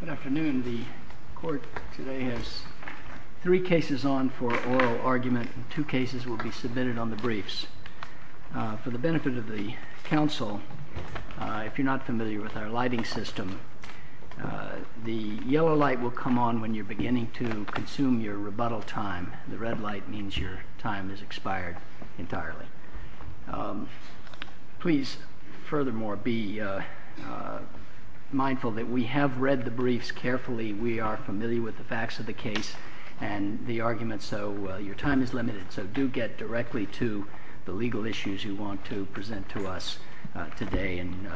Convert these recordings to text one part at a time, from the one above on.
Good afternoon. The Court today has three cases on for oral argument, and two cases will be submitted on the briefs. For the benefit of the Council, if you're not familiar with our lighting system, the yellow light will come on when you're beginning to consume your rebuttal time. The red light means your time has expired entirely. Please, furthermore, be mindful that we have read the briefs carefully. We are familiar with the facts of the case and the arguments, so your time is limited. So do get directly to the legal issues you want to present to us today, and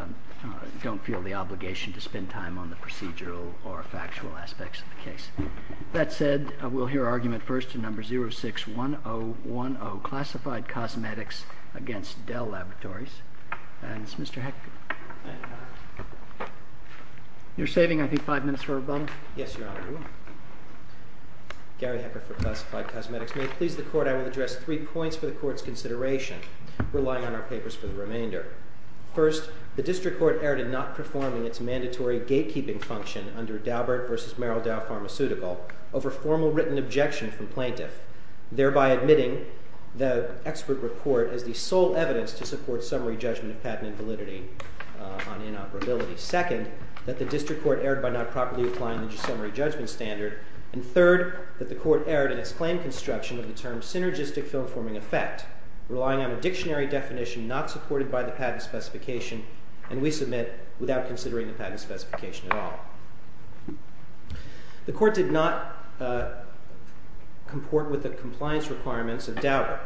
don't feel the obligation to spend time on the procedural or factual aspects of the case. That said, we'll hear argument first in No. 06-1010, on Classified Cosmetics v. Del Laboratories. You're saving, I think, five minutes for rebuttal? Yes, Your Honor, I will. Gary Hecker for Classified Cosmetics. May it please the Court, I will address three points for the Court's consideration, relying on our papers for the remainder. First, the District Court erred in not performing its mandatory gatekeeping function under Daubert v. Merrill Dow Pharmaceutical over formal written objection from plaintiff, thereby admitting the expert report as the sole evidence to support summary judgment of patent invalidity on inoperability. Second, that the District Court erred by not properly applying the summary judgment standard. And third, that the Court erred in its claim construction of the term synergistic film-forming effect, relying on a dictionary definition not supported by the patent specification, and we submit without considering the patent specification at all. The Court did not comport with the compliance requirements of Daubert,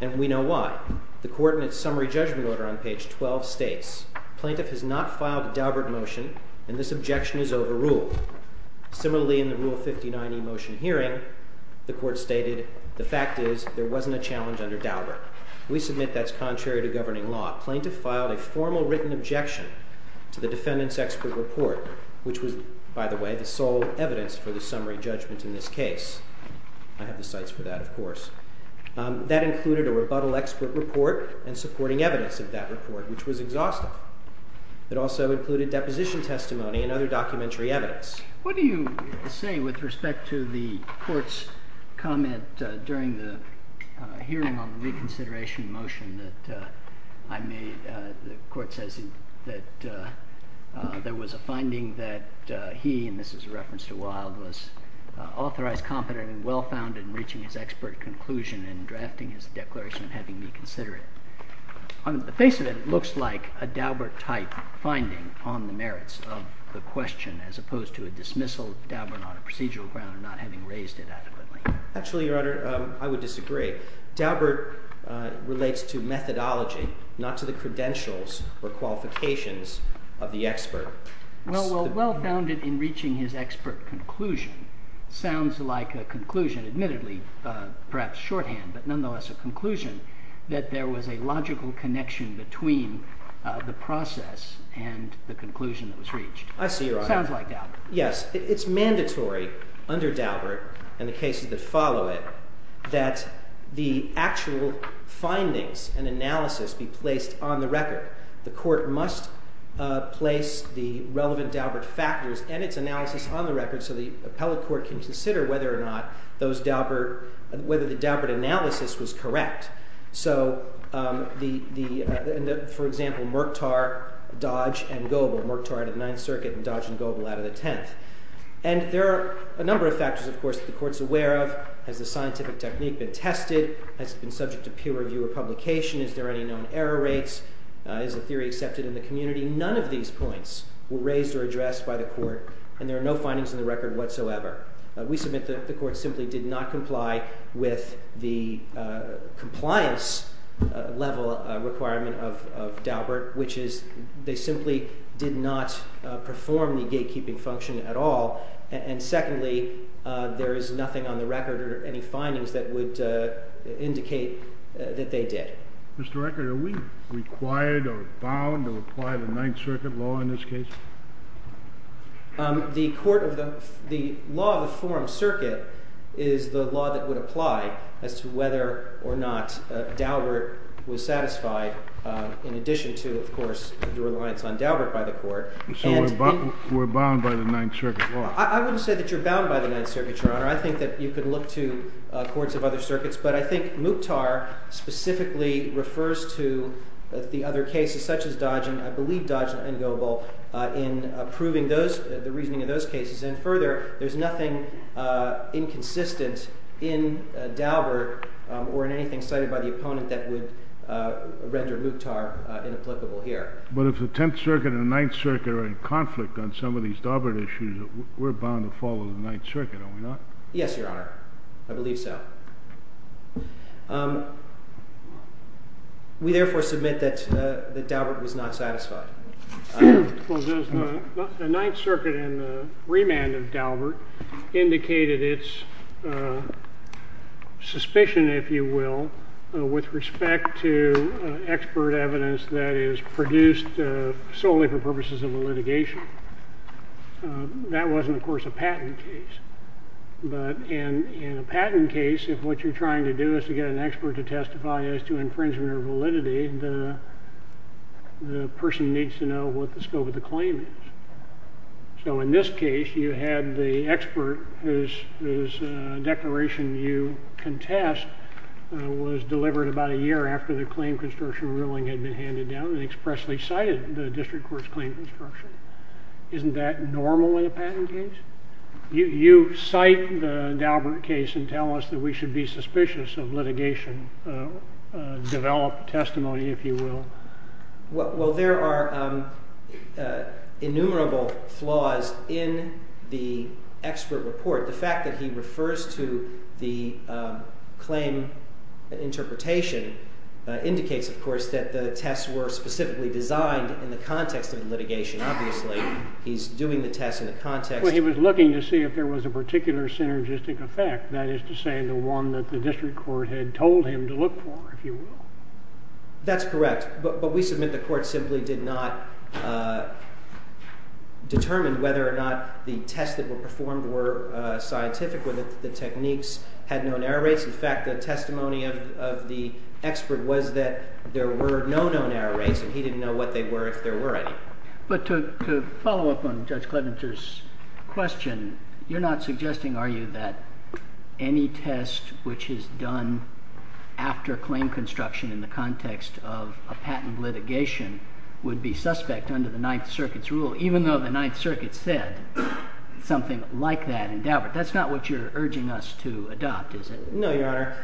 and we know why. The Court, in its summary judgment order on page 12, states, Plaintiff has not filed a Daubert motion, and this objection is overruled. Similarly, in the Rule 59e motion hearing, the Court stated, the fact is, there wasn't a challenge under Daubert. We submit that's contrary to governing law. Plaintiff filed a formal written objection to the defendant's expert report, which was, by the way, the sole evidence for the summary judgment in this case. I have the cites for that, of course. That included a rebuttal expert report and supporting evidence of that report, which was exhaustive. It also included deposition testimony and other documentary evidence. What do you say with respect to the Court's comment during the hearing on the reconsideration motion that I made? The Court says that there was a finding that he, and this is a reference to Wilde, was authorized, competent, and well-founded in reaching his expert conclusion and drafting his declaration and having me consider it. On the face of it, it looks like a Daubert-type finding on the merits of the question, as opposed to a dismissal of Daubert on a procedural ground and not having raised it adequately. Actually, Your Honor, I would disagree. Daubert relates to methodology, not to the credentials or qualifications of the expert. Well-founded in reaching his expert conclusion sounds like a conclusion, admittedly perhaps shorthand, but nonetheless a conclusion, that there was a logical connection between the process and the conclusion that was reached. I see, Your Honor. Sounds like Daubert. Yes, it's mandatory under Daubert and the cases that follow it that the actual findings and analysis be placed on the record. The Court must place the relevant Daubert factors and its analysis on the record so the appellate court can consider whether or not those Daubert whether the Daubert analysis was correct. So, for example, Murktar, Dodge, and Goebel, Murktar out of the Ninth Circuit and Dodge and Goebel out of the Tenth. And there are a number of factors, of course, that the Court's aware of. Has the scientific technique been tested? Has it been subject to peer review or publication? Is there any known error rates? Is the theory accepted in the community? None of these points were raised or addressed by the Court, and there are no findings in the record whatsoever. We submit that the Court simply did not comply with the compliance level requirement of Daubert, which is they simply did not perform the gatekeeping function at all. And secondly, there is nothing on the record or any findings that would indicate that they did. Mr. Record, are we required or bound to apply the Ninth Circuit law in this case? The law of the forum circuit is the law that would apply as to whether or not Daubert was So we're bound by the Ninth Circuit law? I wouldn't say that you're bound by the Ninth Circuit, Your Honor. I think that you could look to courts of other circuits, but I think Murktar specifically refers to the other cases such as Dodge, and I believe Dodge and Goebel, in proving the reasoning of those cases. And further, there's nothing inconsistent in Daubert or in anything cited by the opponent that would render Murktar inapplicable here. But if the Tenth Circuit and the Ninth Circuit are in conflict on some of these Daubert issues, we're bound to follow the Ninth Circuit, are we not? Yes, Your Honor, I believe so. We therefore submit that Daubert was not satisfied. Well, the Ninth Circuit in the remand of Daubert indicated its suspicion, if you will, with respect to expert evidence that is produced solely for purposes of litigation. That wasn't, of course, a patent case. But in a patent case, if what you're trying to do is to get an expert to testify as to infringement or validity, the person needs to know what the scope of the claim is. So in this case, you had the expert whose declaration you contest was delivered about a year after the claim construction ruling had been handed down and expressly cited the district court's claim construction. Isn't that normal in a patent case? You cite the Daubert case and tell us that we should be suspicious of litigation, develop testimony, if you will. Well, there are innumerable flaws in the expert report. The fact that he refers to the claim interpretation indicates, of course, that the tests were specifically designed in the context of litigation, obviously. He's doing the tests in the context. Well, he was looking to see if there was a particular synergistic effect, that is to say, the one that the district court had told him to look for, if you will. That's correct. But we submit the court simply did not determine whether or not the tests that were performed were scientific, whether the techniques had known error rates. In fact, the testimony of the expert was that there were no known error rates, and he didn't know what they were, if there were any. But to follow up on Judge Klementer's question, you're not suggesting, are you, that any test which is done after claim construction in the context of a patent litigation would be suspect under the Ninth Circuit's rule, even though the Ninth Circuit said something like that in Daubert? That's not what you're urging us to adopt, is it? No, Your Honor.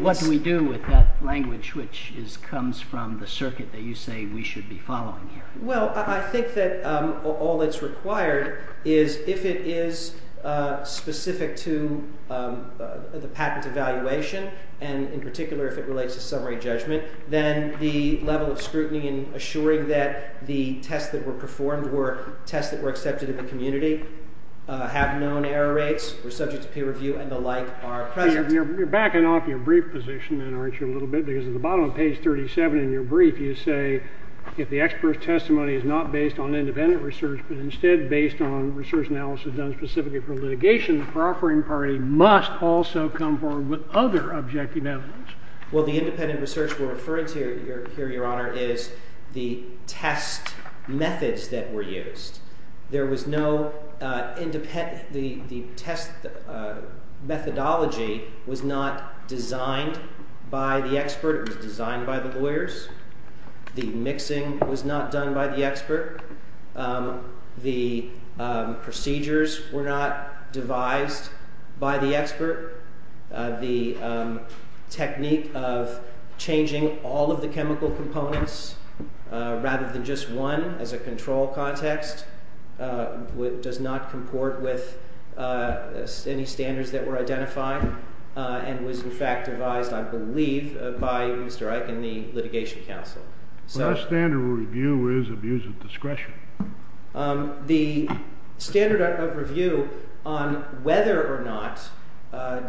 What do we do with that language which comes from the circuit that you say we should be following here? Well, I think that all that's required is if it is specific to the patent evaluation, and in particular if it relates to summary judgment, then the level of scrutiny in assuring that the tests that were performed were tests that were accepted in the community, have known error rates, were subject to peer review, and the like are present. You're backing off your brief position then, aren't you, a little bit? Because at the bottom of page 37 in your brief, you say, if the expert's testimony is not based on independent research, but instead based on research analysis done specifically for litigation, the proffering party must also come forward with other objective evidence. Well, the independent research we're referring to here, Your Honor, is the test methods that were used. The test methodology was not designed by the expert. It was designed by the lawyers. The mixing was not done by the expert. The procedures were not devised by the expert. The technique of changing all of the chemical components rather than just one as a control context does not comport with any standards that were identified and was, in fact, devised, I believe, by Mr. Eich and the litigation counsel. But our standard of review is abuse of discretion. The standard of review on whether or not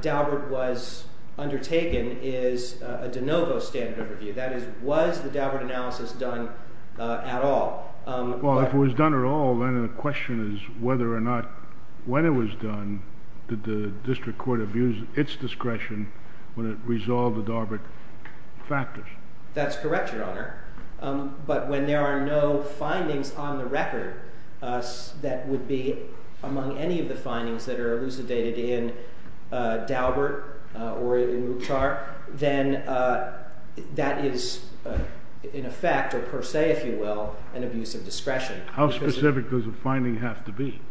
Daubert was undertaken is a de novo standard of review. That is, was the Daubert analysis done at all? Well, if it was done at all, then the question is whether or not, when it was done, did the district court abuse its discretion when it resolved the Daubert factors? That's correct, Your Honor. But when there are no findings on the record that would be among any of the findings that are elucidated in Daubert or in Wuchtar, then that is, in effect, or per se, if you will, an abuse of discretion. How specific does the finding have to be?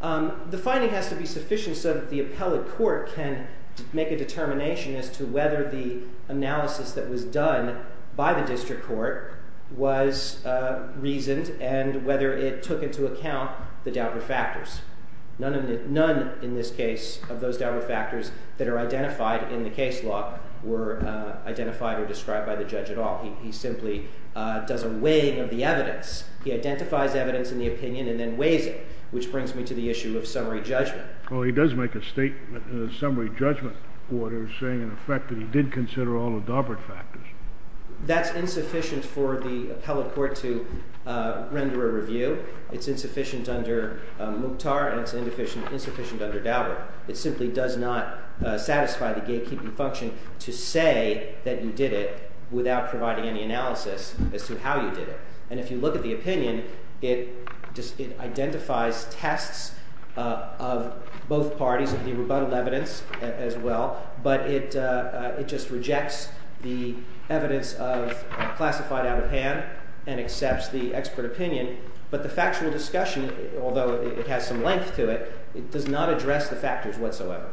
The finding has to be sufficient so that the appellate court can make a determination as to whether the analysis that was done by the district court was reasoned and whether it took into account the Daubert factors. None, in this case, of those Daubert factors that are identified in the case law were identified or described by the judge at all. He simply does a weighing of the evidence. He identifies evidence in the opinion and then weighs it, which brings me to the issue of summary judgment. Well, he does make a statement in the summary judgment order saying, in effect, that he did consider all the Daubert factors. That's insufficient for the appellate court to render a review. It's insufficient under Wuchtar, and it's insufficient under Daubert. It simply does not satisfy the gatekeeping function to say that you did it without providing any analysis as to how you did it. And if you look at the opinion, it identifies tests of both parties, of the rebuttal evidence as well, but it just rejects the evidence of classified out of hand and accepts the expert opinion, but the factual discussion, although it has some length to it, does not address the factors whatsoever.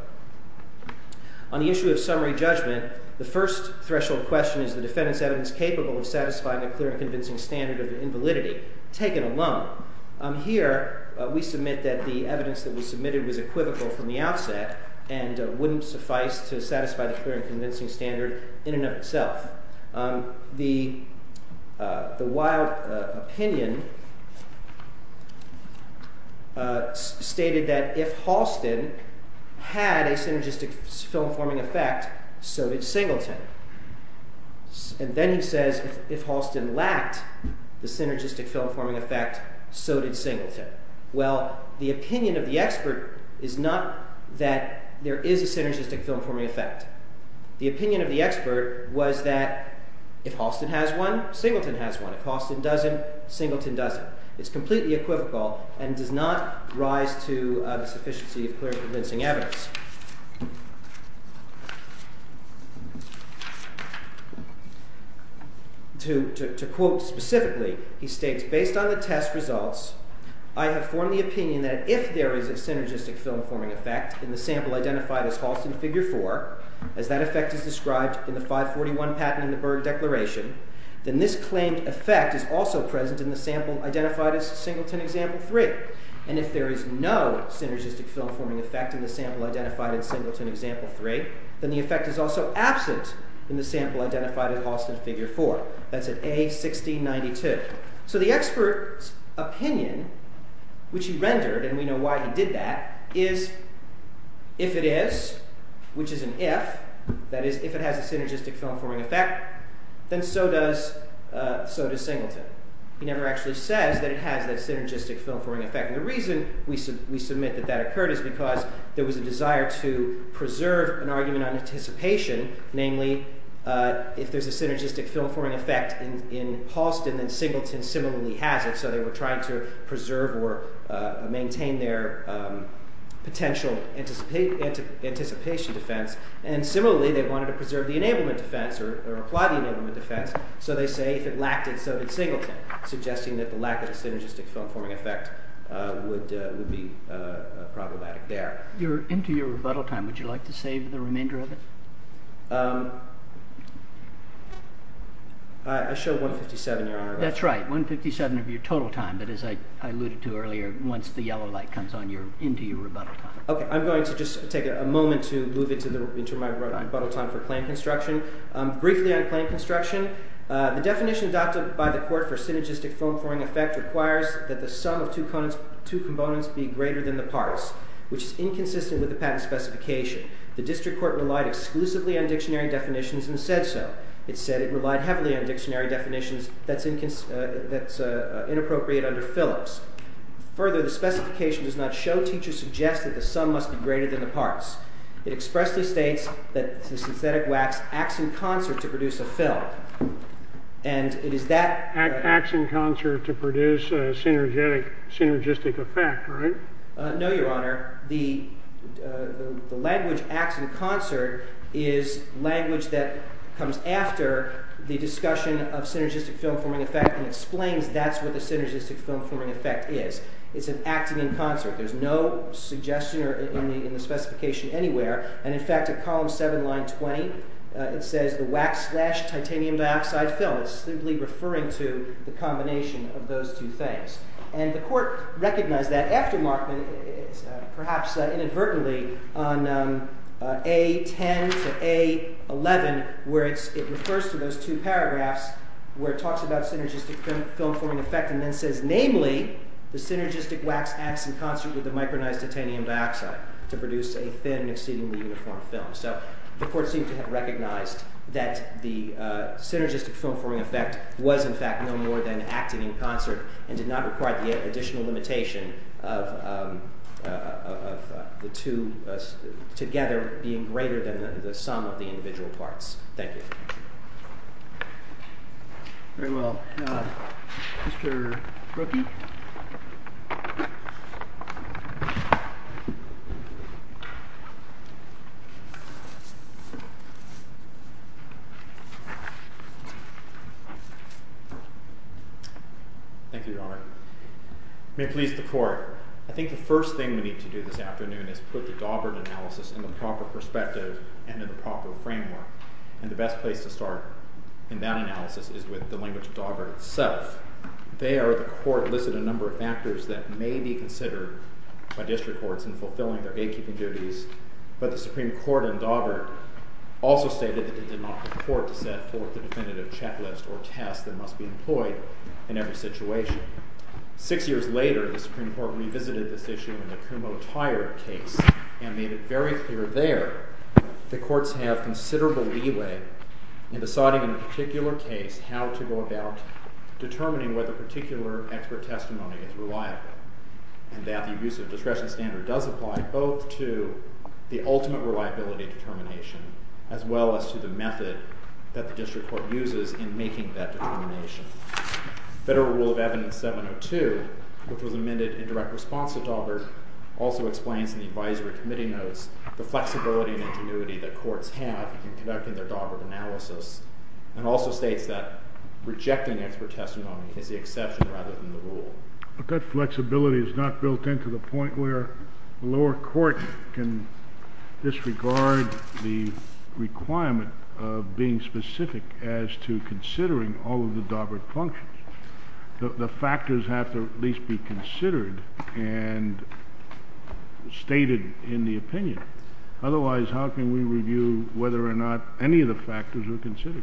On the issue of summary judgment, the first threshold question is the defendant's evidence capable of satisfying the clear and convincing standard of the invalidity. Take it alone. Here, we submit that the evidence that was submitted was equivocal from the outset and wouldn't suffice to satisfy the clear and convincing standard in and of itself. The wild opinion stated that if Halston had a synergistic film-forming effect, so did Singleton. And then he says, if Halston lacked the synergistic film-forming effect, so did Singleton. Well, the opinion of the expert is not that there is a synergistic film-forming effect. The opinion of the expert was that if Halston has one, Singleton has one. If Halston doesn't, Singleton doesn't. It's completely equivocal and does not rise to the sufficiency of clear and convincing evidence. To quote specifically, he states, based on the test results, I have formed the opinion that if there is a synergistic film-forming effect in the sample identified as Halston Figure 4, as that effect is described in the 541 Patten and de Berg Declaration, then this claimed effect is also present in the sample identified as Singleton Example 3. And if there is no synergistic film-forming effect in the sample identified as Singleton Example 3, then the effect is also absent in the sample identified as Halston Figure 4. That's at A1692. So the expert's opinion, which he rendered, and we know why he did that, is if it is, which is an if, that is, if it has a synergistic film-forming effect, then so does Singleton. He never actually says that it has that synergistic film-forming effect. The reason we submit that that occurred is because there was a desire to preserve an argument on anticipation, namely, if there's a synergistic film-forming effect in Halston, then Singleton similarly has it. So they were trying to preserve or maintain their potential anticipation defense. And similarly, they wanted to preserve the enablement defense or apply the enablement defense. So they say if it lacked it, so did Singleton, suggesting that the lack of a synergistic film-forming effect would be problematic there. You're into your rebuttal time. Would you like to save the remainder of it? I showed 157, Your Honor. That's right. 157 of your total time, that is, I alluded to earlier, once the yellow light comes into your rebuttal time. OK. I'm going to just take a moment to move into my rebuttal time for claim construction. Briefly on claim construction, the definition adopted by the court for synergistic film-forming effect requires that the sum of two components be greater than the parts, which is inconsistent with the patent specification. The district court relied exclusively on dictionary definitions and said so. It said it relied heavily on dictionary definitions that's inappropriate under Phillips. Further, the specification does not show, teachers suggest that the sum must be greater than the parts. It expressly states that the synthetic wax acts in concert to produce a film. And it is that that acts in concert to produce a synergistic effect, right? No, Your Honor. The language acts in concert is language that comes after the discussion of synergistic film-forming effect and explains that's what the synergistic film-forming effect is. It's an acting in concert. There's no suggestion in the specification anywhere. And in fact, at column 7, line 20, it says the wax slash titanium dioxide film. It's simply referring to the combination of those two things. And the court recognized that after Markman, perhaps inadvertently, on A10 to A11, where it refers to those two paragraphs where it talks about synergistic film-forming effect and then says, namely, the synergistic wax acts in concert with the micronized titanium dioxide to produce a thin, exceedingly uniform film. So the court seemed to have recognized that the synergistic film-forming effect was, in fact, no more than acting in concert and did not require the additional limitation of the two together being greater than the sum of the individual parts. Thank you. Very well. Mr. Rookie? Thank you, Your Honor. May it please the court. I think the first thing we need to do this afternoon is put the Daubert analysis in the proper perspective and in the proper framework. And the best place to start in that analysis is with the language of Daubert itself. of the Daubert analysis. They are the court-listed language of the Daubert analysis. They listed a number of factors that may be considered by district courts in fulfilling their gatekeeping duties. But the Supreme Court in Daubert also stated that it did not put the court to set forth the definitive checklist or test that must be employed in every situation. Six years later, the Supreme Court revisited this issue in the Kumho-Tyre case and made it very clear there that courts have considerable leeway in deciding in a particular case how to go about determining whether a particular expert testimony is reliable. And that the abuse of discretion standard does apply both to the ultimate reliability determination as well as to the method that the district court uses in making that determination. Federal Rule of Evidence 702, which was amended in direct response to Daubert, also explains in the advisory committee notes the flexibility and ingenuity that courts have in conducting their Daubert analysis. And also states that rejecting expert testimony is the exception rather than the rule. But that flexibility is not built into the point where the lower court can disregard the requirement of being specific as to considering all of the Daubert functions. The factors have to at least be considered and stated in the opinion. Otherwise, how can we review whether or not any of the factors are considered?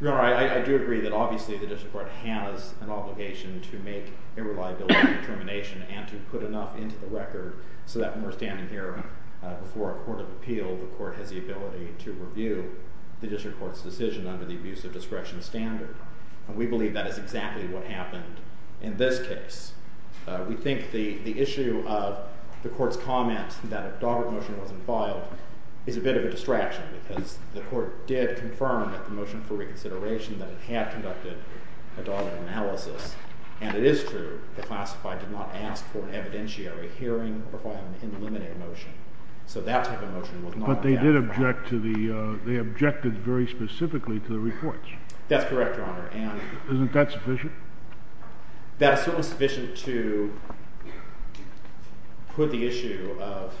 Your Honor, I do agree that obviously the district court has an obligation to make a reliability determination and to put enough into the record so that when we're standing here before a court of appeal, the court has the ability to review the district court's decision under the abuse of discretion standard. And we believe that is exactly what happened in this case. We think the issue of the court's comment that a Daubert motion wasn't filed is a bit of a distraction. Because the court did confirm that the motion for reconsideration that it had conducted a Daubert analysis, and it is true, the classified did not ask for an evidentiary hearing or for an indeliminate motion. So that type of motion was not a Daubert motion. But they objected very specifically to the reports. That's correct, Your Honor. Isn't that sufficient? That is certainly sufficient to put the issue of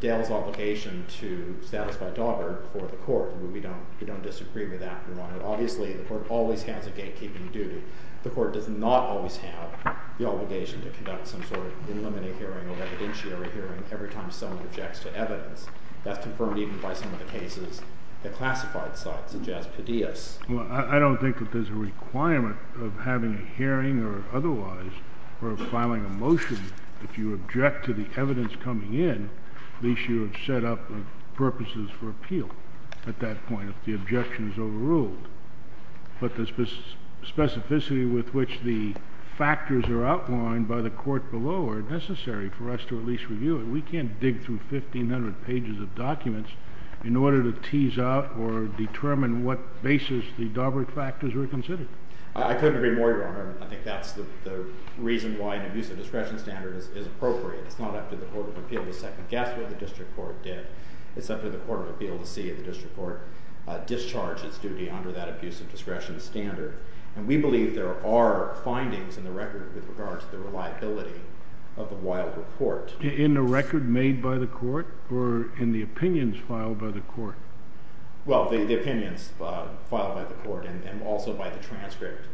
Dale's obligation to satisfy Daubert before the court. We don't disagree with that, Your Honor. Obviously, the court always has a gatekeeping duty. The court does not always have the obligation to conduct some sort of indeliminate hearing or evidentiary hearing every time someone objects to evidence. That's confirmed even by some of the cases that classified sites suggest to Diaz. Well, I don't think that there's a requirement of having a hearing or otherwise for filing a motion if you object to the evidence coming in. At least you have set up purposes for appeal at that point if the objection is overruled. But the specificity with which the factors are outlined by the court below are necessary for us to at least review it. We can't dig through 1,500 pages of documents in order to tease out or determine what basis the Daubert factors were considered. I couldn't agree more, Your Honor. I think that's the reason why an abusive discretion standard is appropriate. It's not up to the Court of Appeal to second-guess what the district court did. It's up to the Court of Appeal to see if the district court discharged its duty under that abusive discretion standard. And we believe there are findings in the record with regards to the reliability of a wild report. In the record made by the court or in the opinions filed by the court? Well, the opinions filed by the court and also by the transcript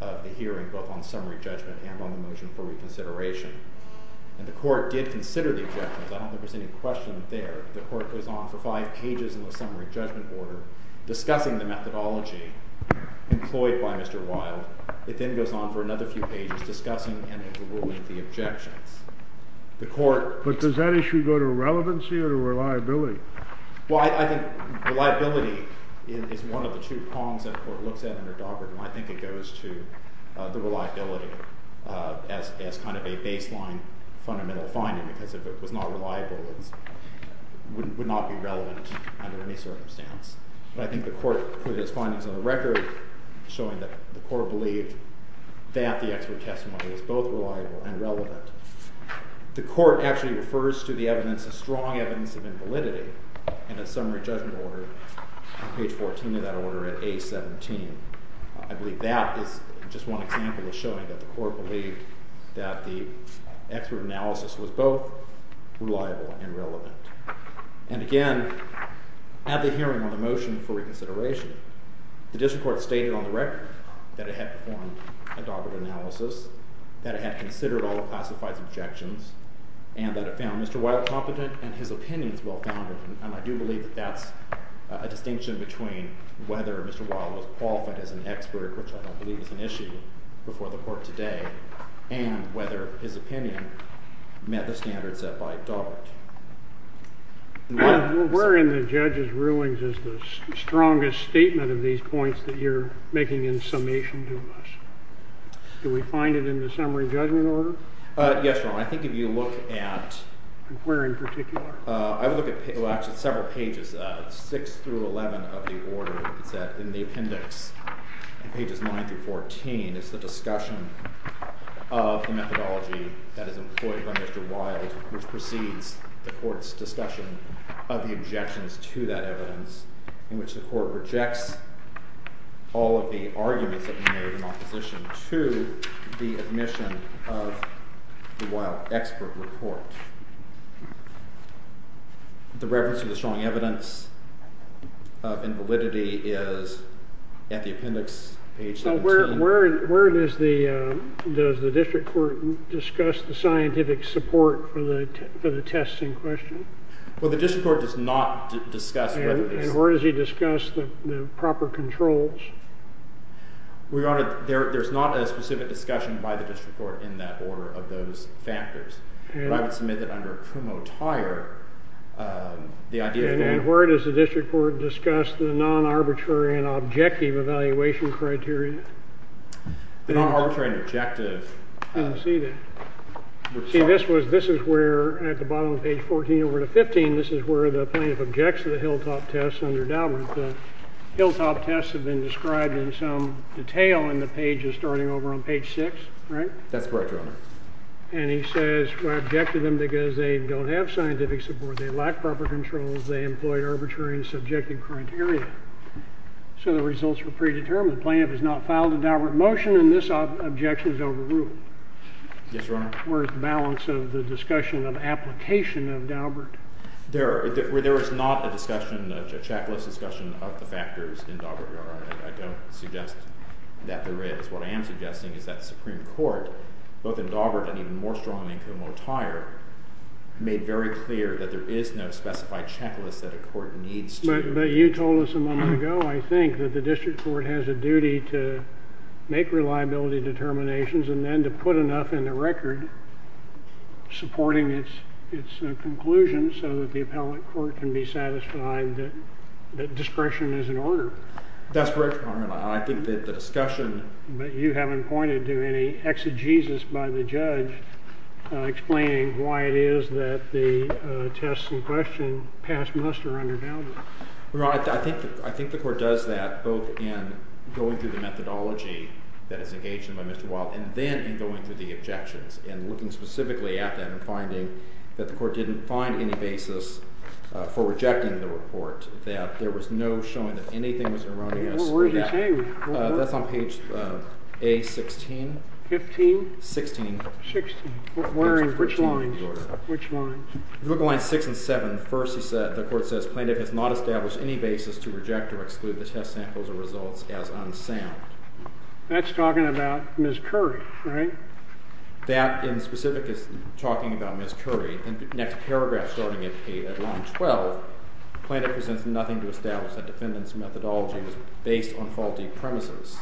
of the hearing, both on summary judgment and on the motion for reconsideration. And the court did consider the objections. I don't think there was any question there. The court goes on for five pages in the summary judgment order, discussing the methodology employed by Mr. Wild. It then goes on for another few pages, discussing and overruling the objections. But does that issue go to relevancy or to reliability? Well, I think reliability is one of the two prongs that the court looks at under Daugherty. And I think it goes to the reliability as kind of a baseline fundamental finding. Because if it was not reliable, it would not be relevant under any circumstance. But I think the court put its findings on the record, showing that the court believed that the expert testimony was both reliable and relevant. The court actually refers to the evidence as strong evidence of invalidity in a summary judgment order. Page 14 of that order at A17. I believe that is just one example of showing that the court believed that the expert analysis was both reliable and relevant. And again, at the hearing on the motion for reconsideration, the district court stated on the record that it had performed a Daugherty analysis, that it had considered all the classified objections, and that it found Mr. Wild competent and his opinions well-founded. And I do believe that that's a distinction between whether Mr. Wild was qualified as an expert, which I don't believe is an issue before the court today, and whether his opinion met the standards set by Daugherty. Where in the judge's rulings is the strongest statement of these points that you're making in summation to us? Do we find it in the summary judgment order? Yes, Your Honor. I think if you look at where in particular. I would look at several pages. It's six through 11 of the order. It's in the appendix, pages 9 through 14. It's the discussion of the methodology that is employed by Mr. Wild, which precedes the court's discussion of the objections to that evidence, in which the court rejects all of the arguments that were made in opposition to the admission of the Wild expert report. The reference to the strong evidence of invalidity is at the appendix, page 17. So where does the district court discuss the scientific support for the testing question? Well, the district court does not discuss whether this is. And where does he discuss the proper controls? Your Honor, there's not a specific discussion by the district court in that order of those factors. But I would submit that under Primo Tire, the idea of being. And where does the district court discuss the non-arbitrary and objective evaluation criteria? The non-arbitrary and objective. I didn't see that. See, this is where, at the bottom of page 14 over to 15, this is where the plaintiff objects to the Hilltop test under Daubert. The Hilltop tests have been described in some detail in the pages starting over on page 6, right? That's correct, Your Honor. And he says, I object to them because they don't have scientific support. They lack proper controls. They employ arbitrary and subjective criteria. So the results were predetermined. The plaintiff has not filed a Daubert motion, and this objection is overruled. Yes, Your Honor. Where is the balance of the discussion of application of Daubert? There is not a discussion, a checklist discussion, of the factors in Daubert, Your Honor. I don't suggest that there is. What I am suggesting is that the Supreme Court, both in Daubert and even more strongly in Como Tire, made very clear that there is no specified checklist that a court needs to. But you told us a moment ago, I think, that the district court has a duty to make reliability determinations and then to put enough in the record supporting its conclusion so that the appellate court can be satisfied that discretion is in order. That's correct, Your Honor. But you haven't pointed to any exegesis by the judge explaining why it is that the test in question passed muster under Daubert. I think the court does that both in going through the methodology that is engaged in by Mr. Wilde and then in going through the objections and looking specifically at them and finding that the court didn't find any basis for rejecting the report, that there was no showing that anything was erroneous. Where is he saying that? That's on page A-16. 15? 16. 16. Which lines? Which lines? Look at lines 6 and 7. First, the court says, plaintiff has not established any basis to reject or exclude the test samples or results as unsound. That's talking about Ms. Curry, right? That, in specific, is talking about Ms. Curry. The next paragraph, starting at line 12, plaintiff presents nothing to establish that defendant's methodology was based on faulty premises.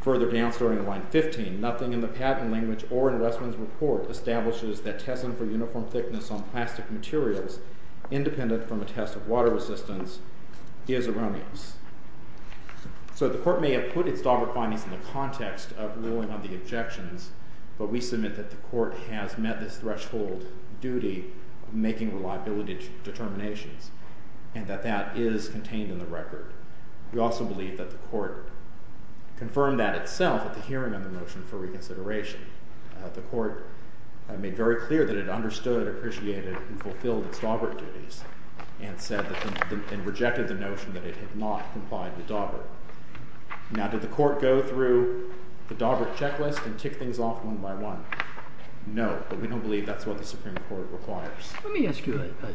Further down, starting at line 15, nothing in the patent language or in Westman's report establishes that testing for uniform thickness on plastic materials, independent from a test of water resistance, is erroneous. So the court may have put its Daubert findings in the context of ruling on the objections, but we submit that the court has met this threshold duty of making reliability determinations. And that that is contained in the record. We also believe that the court confirmed that itself at the hearing of the motion for reconsideration. The court made very clear that it understood, appreciated, and fulfilled its Daubert duties, and rejected the notion that it had not complied with Daubert. Now, did the court go through the Daubert checklist and tick things off one by one? No, but we don't believe that's what the Supreme Court requires. Let me ask you a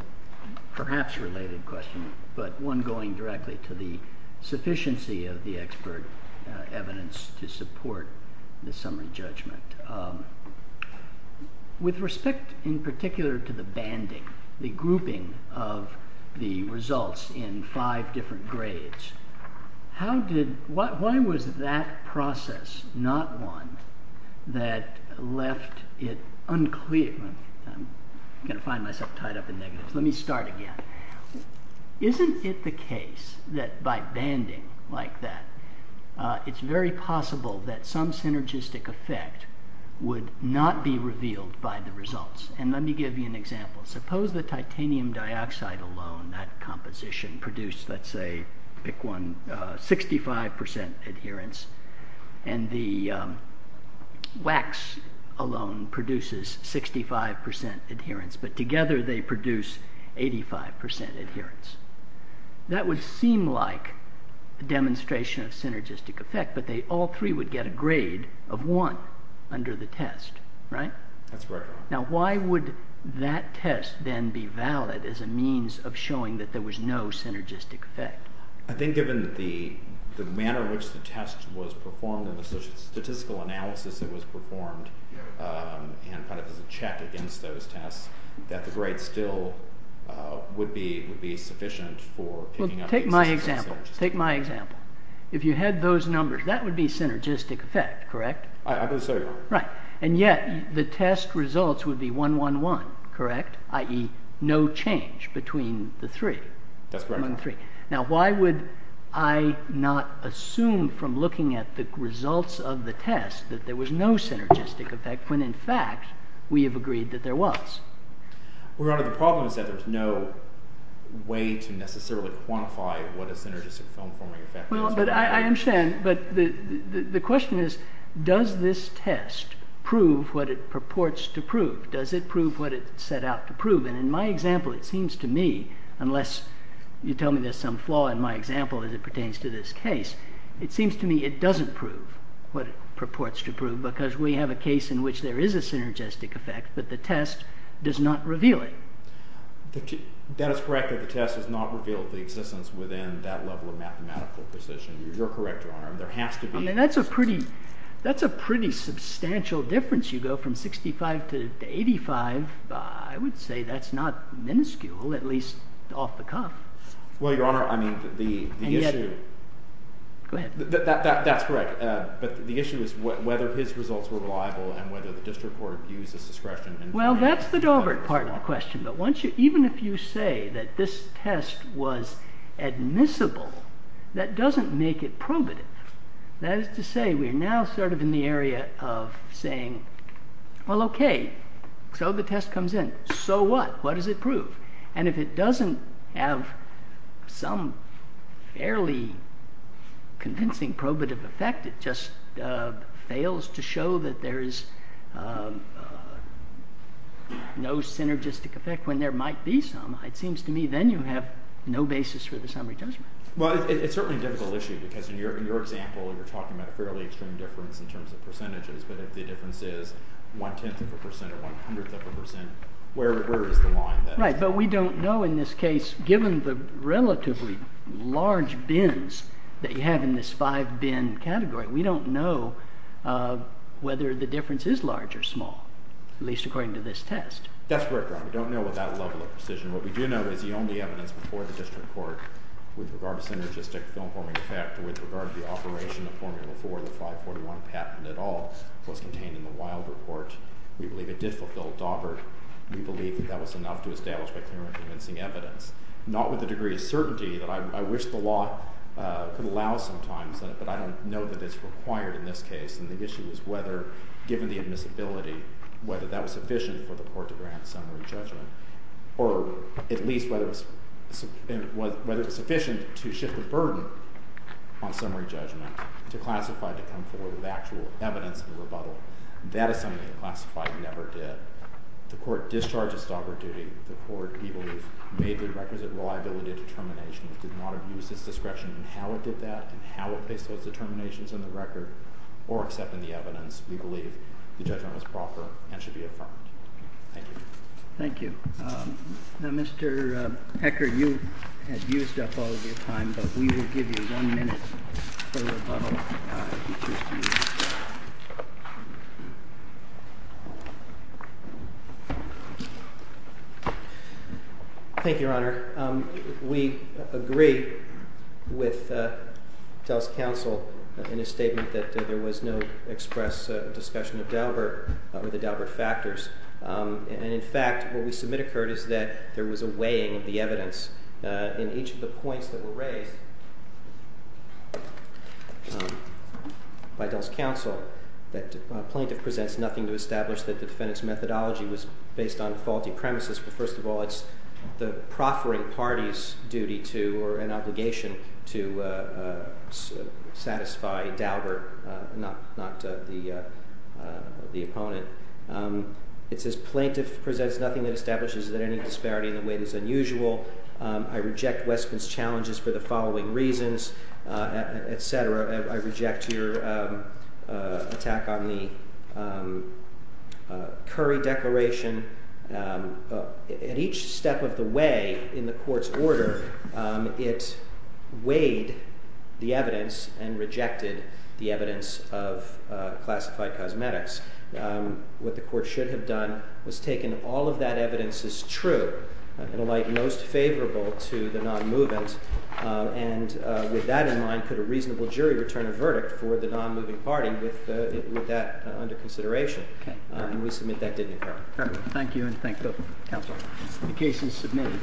perhaps related question, but one going directly to the sufficiency of the expert evidence to support the summary judgment. With respect, in particular, to the banding, the grouping of the results in five different grades, why was that process not one that left it unclear? I'm going to find myself tied up in negatives. Let me start again. Isn't it the case that by banding like that, it's very possible that some synergistic effect would not be revealed by the results? And let me give you an example. Suppose the titanium dioxide alone, that composition produced, let's say, pick one, 65% adherence, and the wax alone produces 65% adherence, but together they produce 85% adherence. That would seem like a demonstration of synergistic effect, but all three would get a grade of one under the test, right? That's right. Now, why would that test then be valid as a means of showing that there was no synergistic effect? I think given the manner in which the test was performed and the statistical analysis that was performed and as a check against those tests, that the grade still would be sufficient for picking up synergistic effect. Take my example. If you had those numbers, that would be synergistic effect, correct? I would say so. Right. And yet, the test results would be 1-1-1, correct? i.e. no change between the three. That's correct. 1-1-3. Now, why would I not assume from looking at the results of the test that there was no synergistic effect when, in fact, we have agreed that there was? Well, Your Honor, the problem is that there's no way to necessarily quantify what a synergistic film-forming effect is. I understand, but the question is, does this test prove what it purports to prove? Does it prove what it set out to prove? And in my example, it seems to me, unless you tell me there's some flaw in my example as it pertains to this case, it seems to me it doesn't prove what it purports to prove because we have a case in which there is a synergistic effect, but the test does not reveal it. Then it's correct that the test has not revealed the existence within that level of mathematical precision. You're correct, Your Honor. I mean, that's a pretty substantial difference. You go from 65 to 85. I would say that's not minuscule, at least off the cuff. Well, Your Honor, I mean, the issue... Go ahead. That's correct. But the issue is whether his results were reliable and whether the district court used his discretion. Well, that's the Dover part of the question. But even if you say that this test was admissible, that doesn't make it probative. That is to say, we're now sort of in the area of saying, well, okay, so the test comes in. So what? What does it prove? And if it doesn't have some fairly convincing probative effect, it just fails to show that there is no synergistic effect when there might be some, it seems to me then you have no basis for the summary judgment. Well, it's certainly a difficult issue because in your example you're talking about a fairly extreme difference in terms of percentages, but if the difference is one-tenth of a percent or one-hundredth of a percent, where is the line there? Right. But we don't know in this case, given the relatively large bins that you have in this five-bin category, we don't know whether the difference is large or small, at least according to this test. That's correct, Your Honor. We don't know with that level of precision. What we do know is the only evidence before the district court with regard to synergistic film-forming effect or with regard to the operation of Formula 4, the 541 patent at all, was contained in the Wilder court. We believe it did fulfill Dover. We believe that that was enough to establish by clear and convincing evidence. Not with the degree of certainty that I wish the law could allow sometimes, but I don't know that it's required in this case. And the issue is whether, given the admissibility, whether that was sufficient for the court to grant summary judgment, or at least whether it was sufficient to shift the burden on summary judgment to classify to come forward with actual evidence of rebuttal. That is something the classified never did. The court discharged its Dover duty. The court, we believe, made the requisite reliability of determination and did not abuse its discretion in how it did that and how it placed those determinations in the record or except in the evidence. We believe the judgment was proper and should be affirmed. Thank you. Thank you. Now, Mr. Hecker, you have used up all of your time, but we will give you one minute for rebuttal, if you choose to use it. Thank you, Your Honor. We agree with Tell's counsel in his statement that there was no express discussion of Dover or the Dover factors. And in fact, what we submit occurred is that there was a weighing of the evidence in each of the points that were raised by Tell's counsel that a plaintiff presents nothing to establish that the defendant's methodology was based on faulty premises. But first of all, it's the proffering party's duty to or an obligation to satisfy Dover, not the opponent. It says plaintiff presents nothing that establishes that any disparity in the weight is unusual. I reject Westman's challenges for the following reasons, et cetera. I reject your attack on the Curry Declaration. At each step of the way in the court's order, it weighed the evidence and rejected the evidence of classified cosmetics. What the court should have done was taken all of that evidence as true and alight most favorable to the non-movement. And with that in mind, could a reasonable jury return a verdict for the non-moving party with that under consideration? And we submit that didn't occur. Thank you, and thank the counsel. The case is submitted.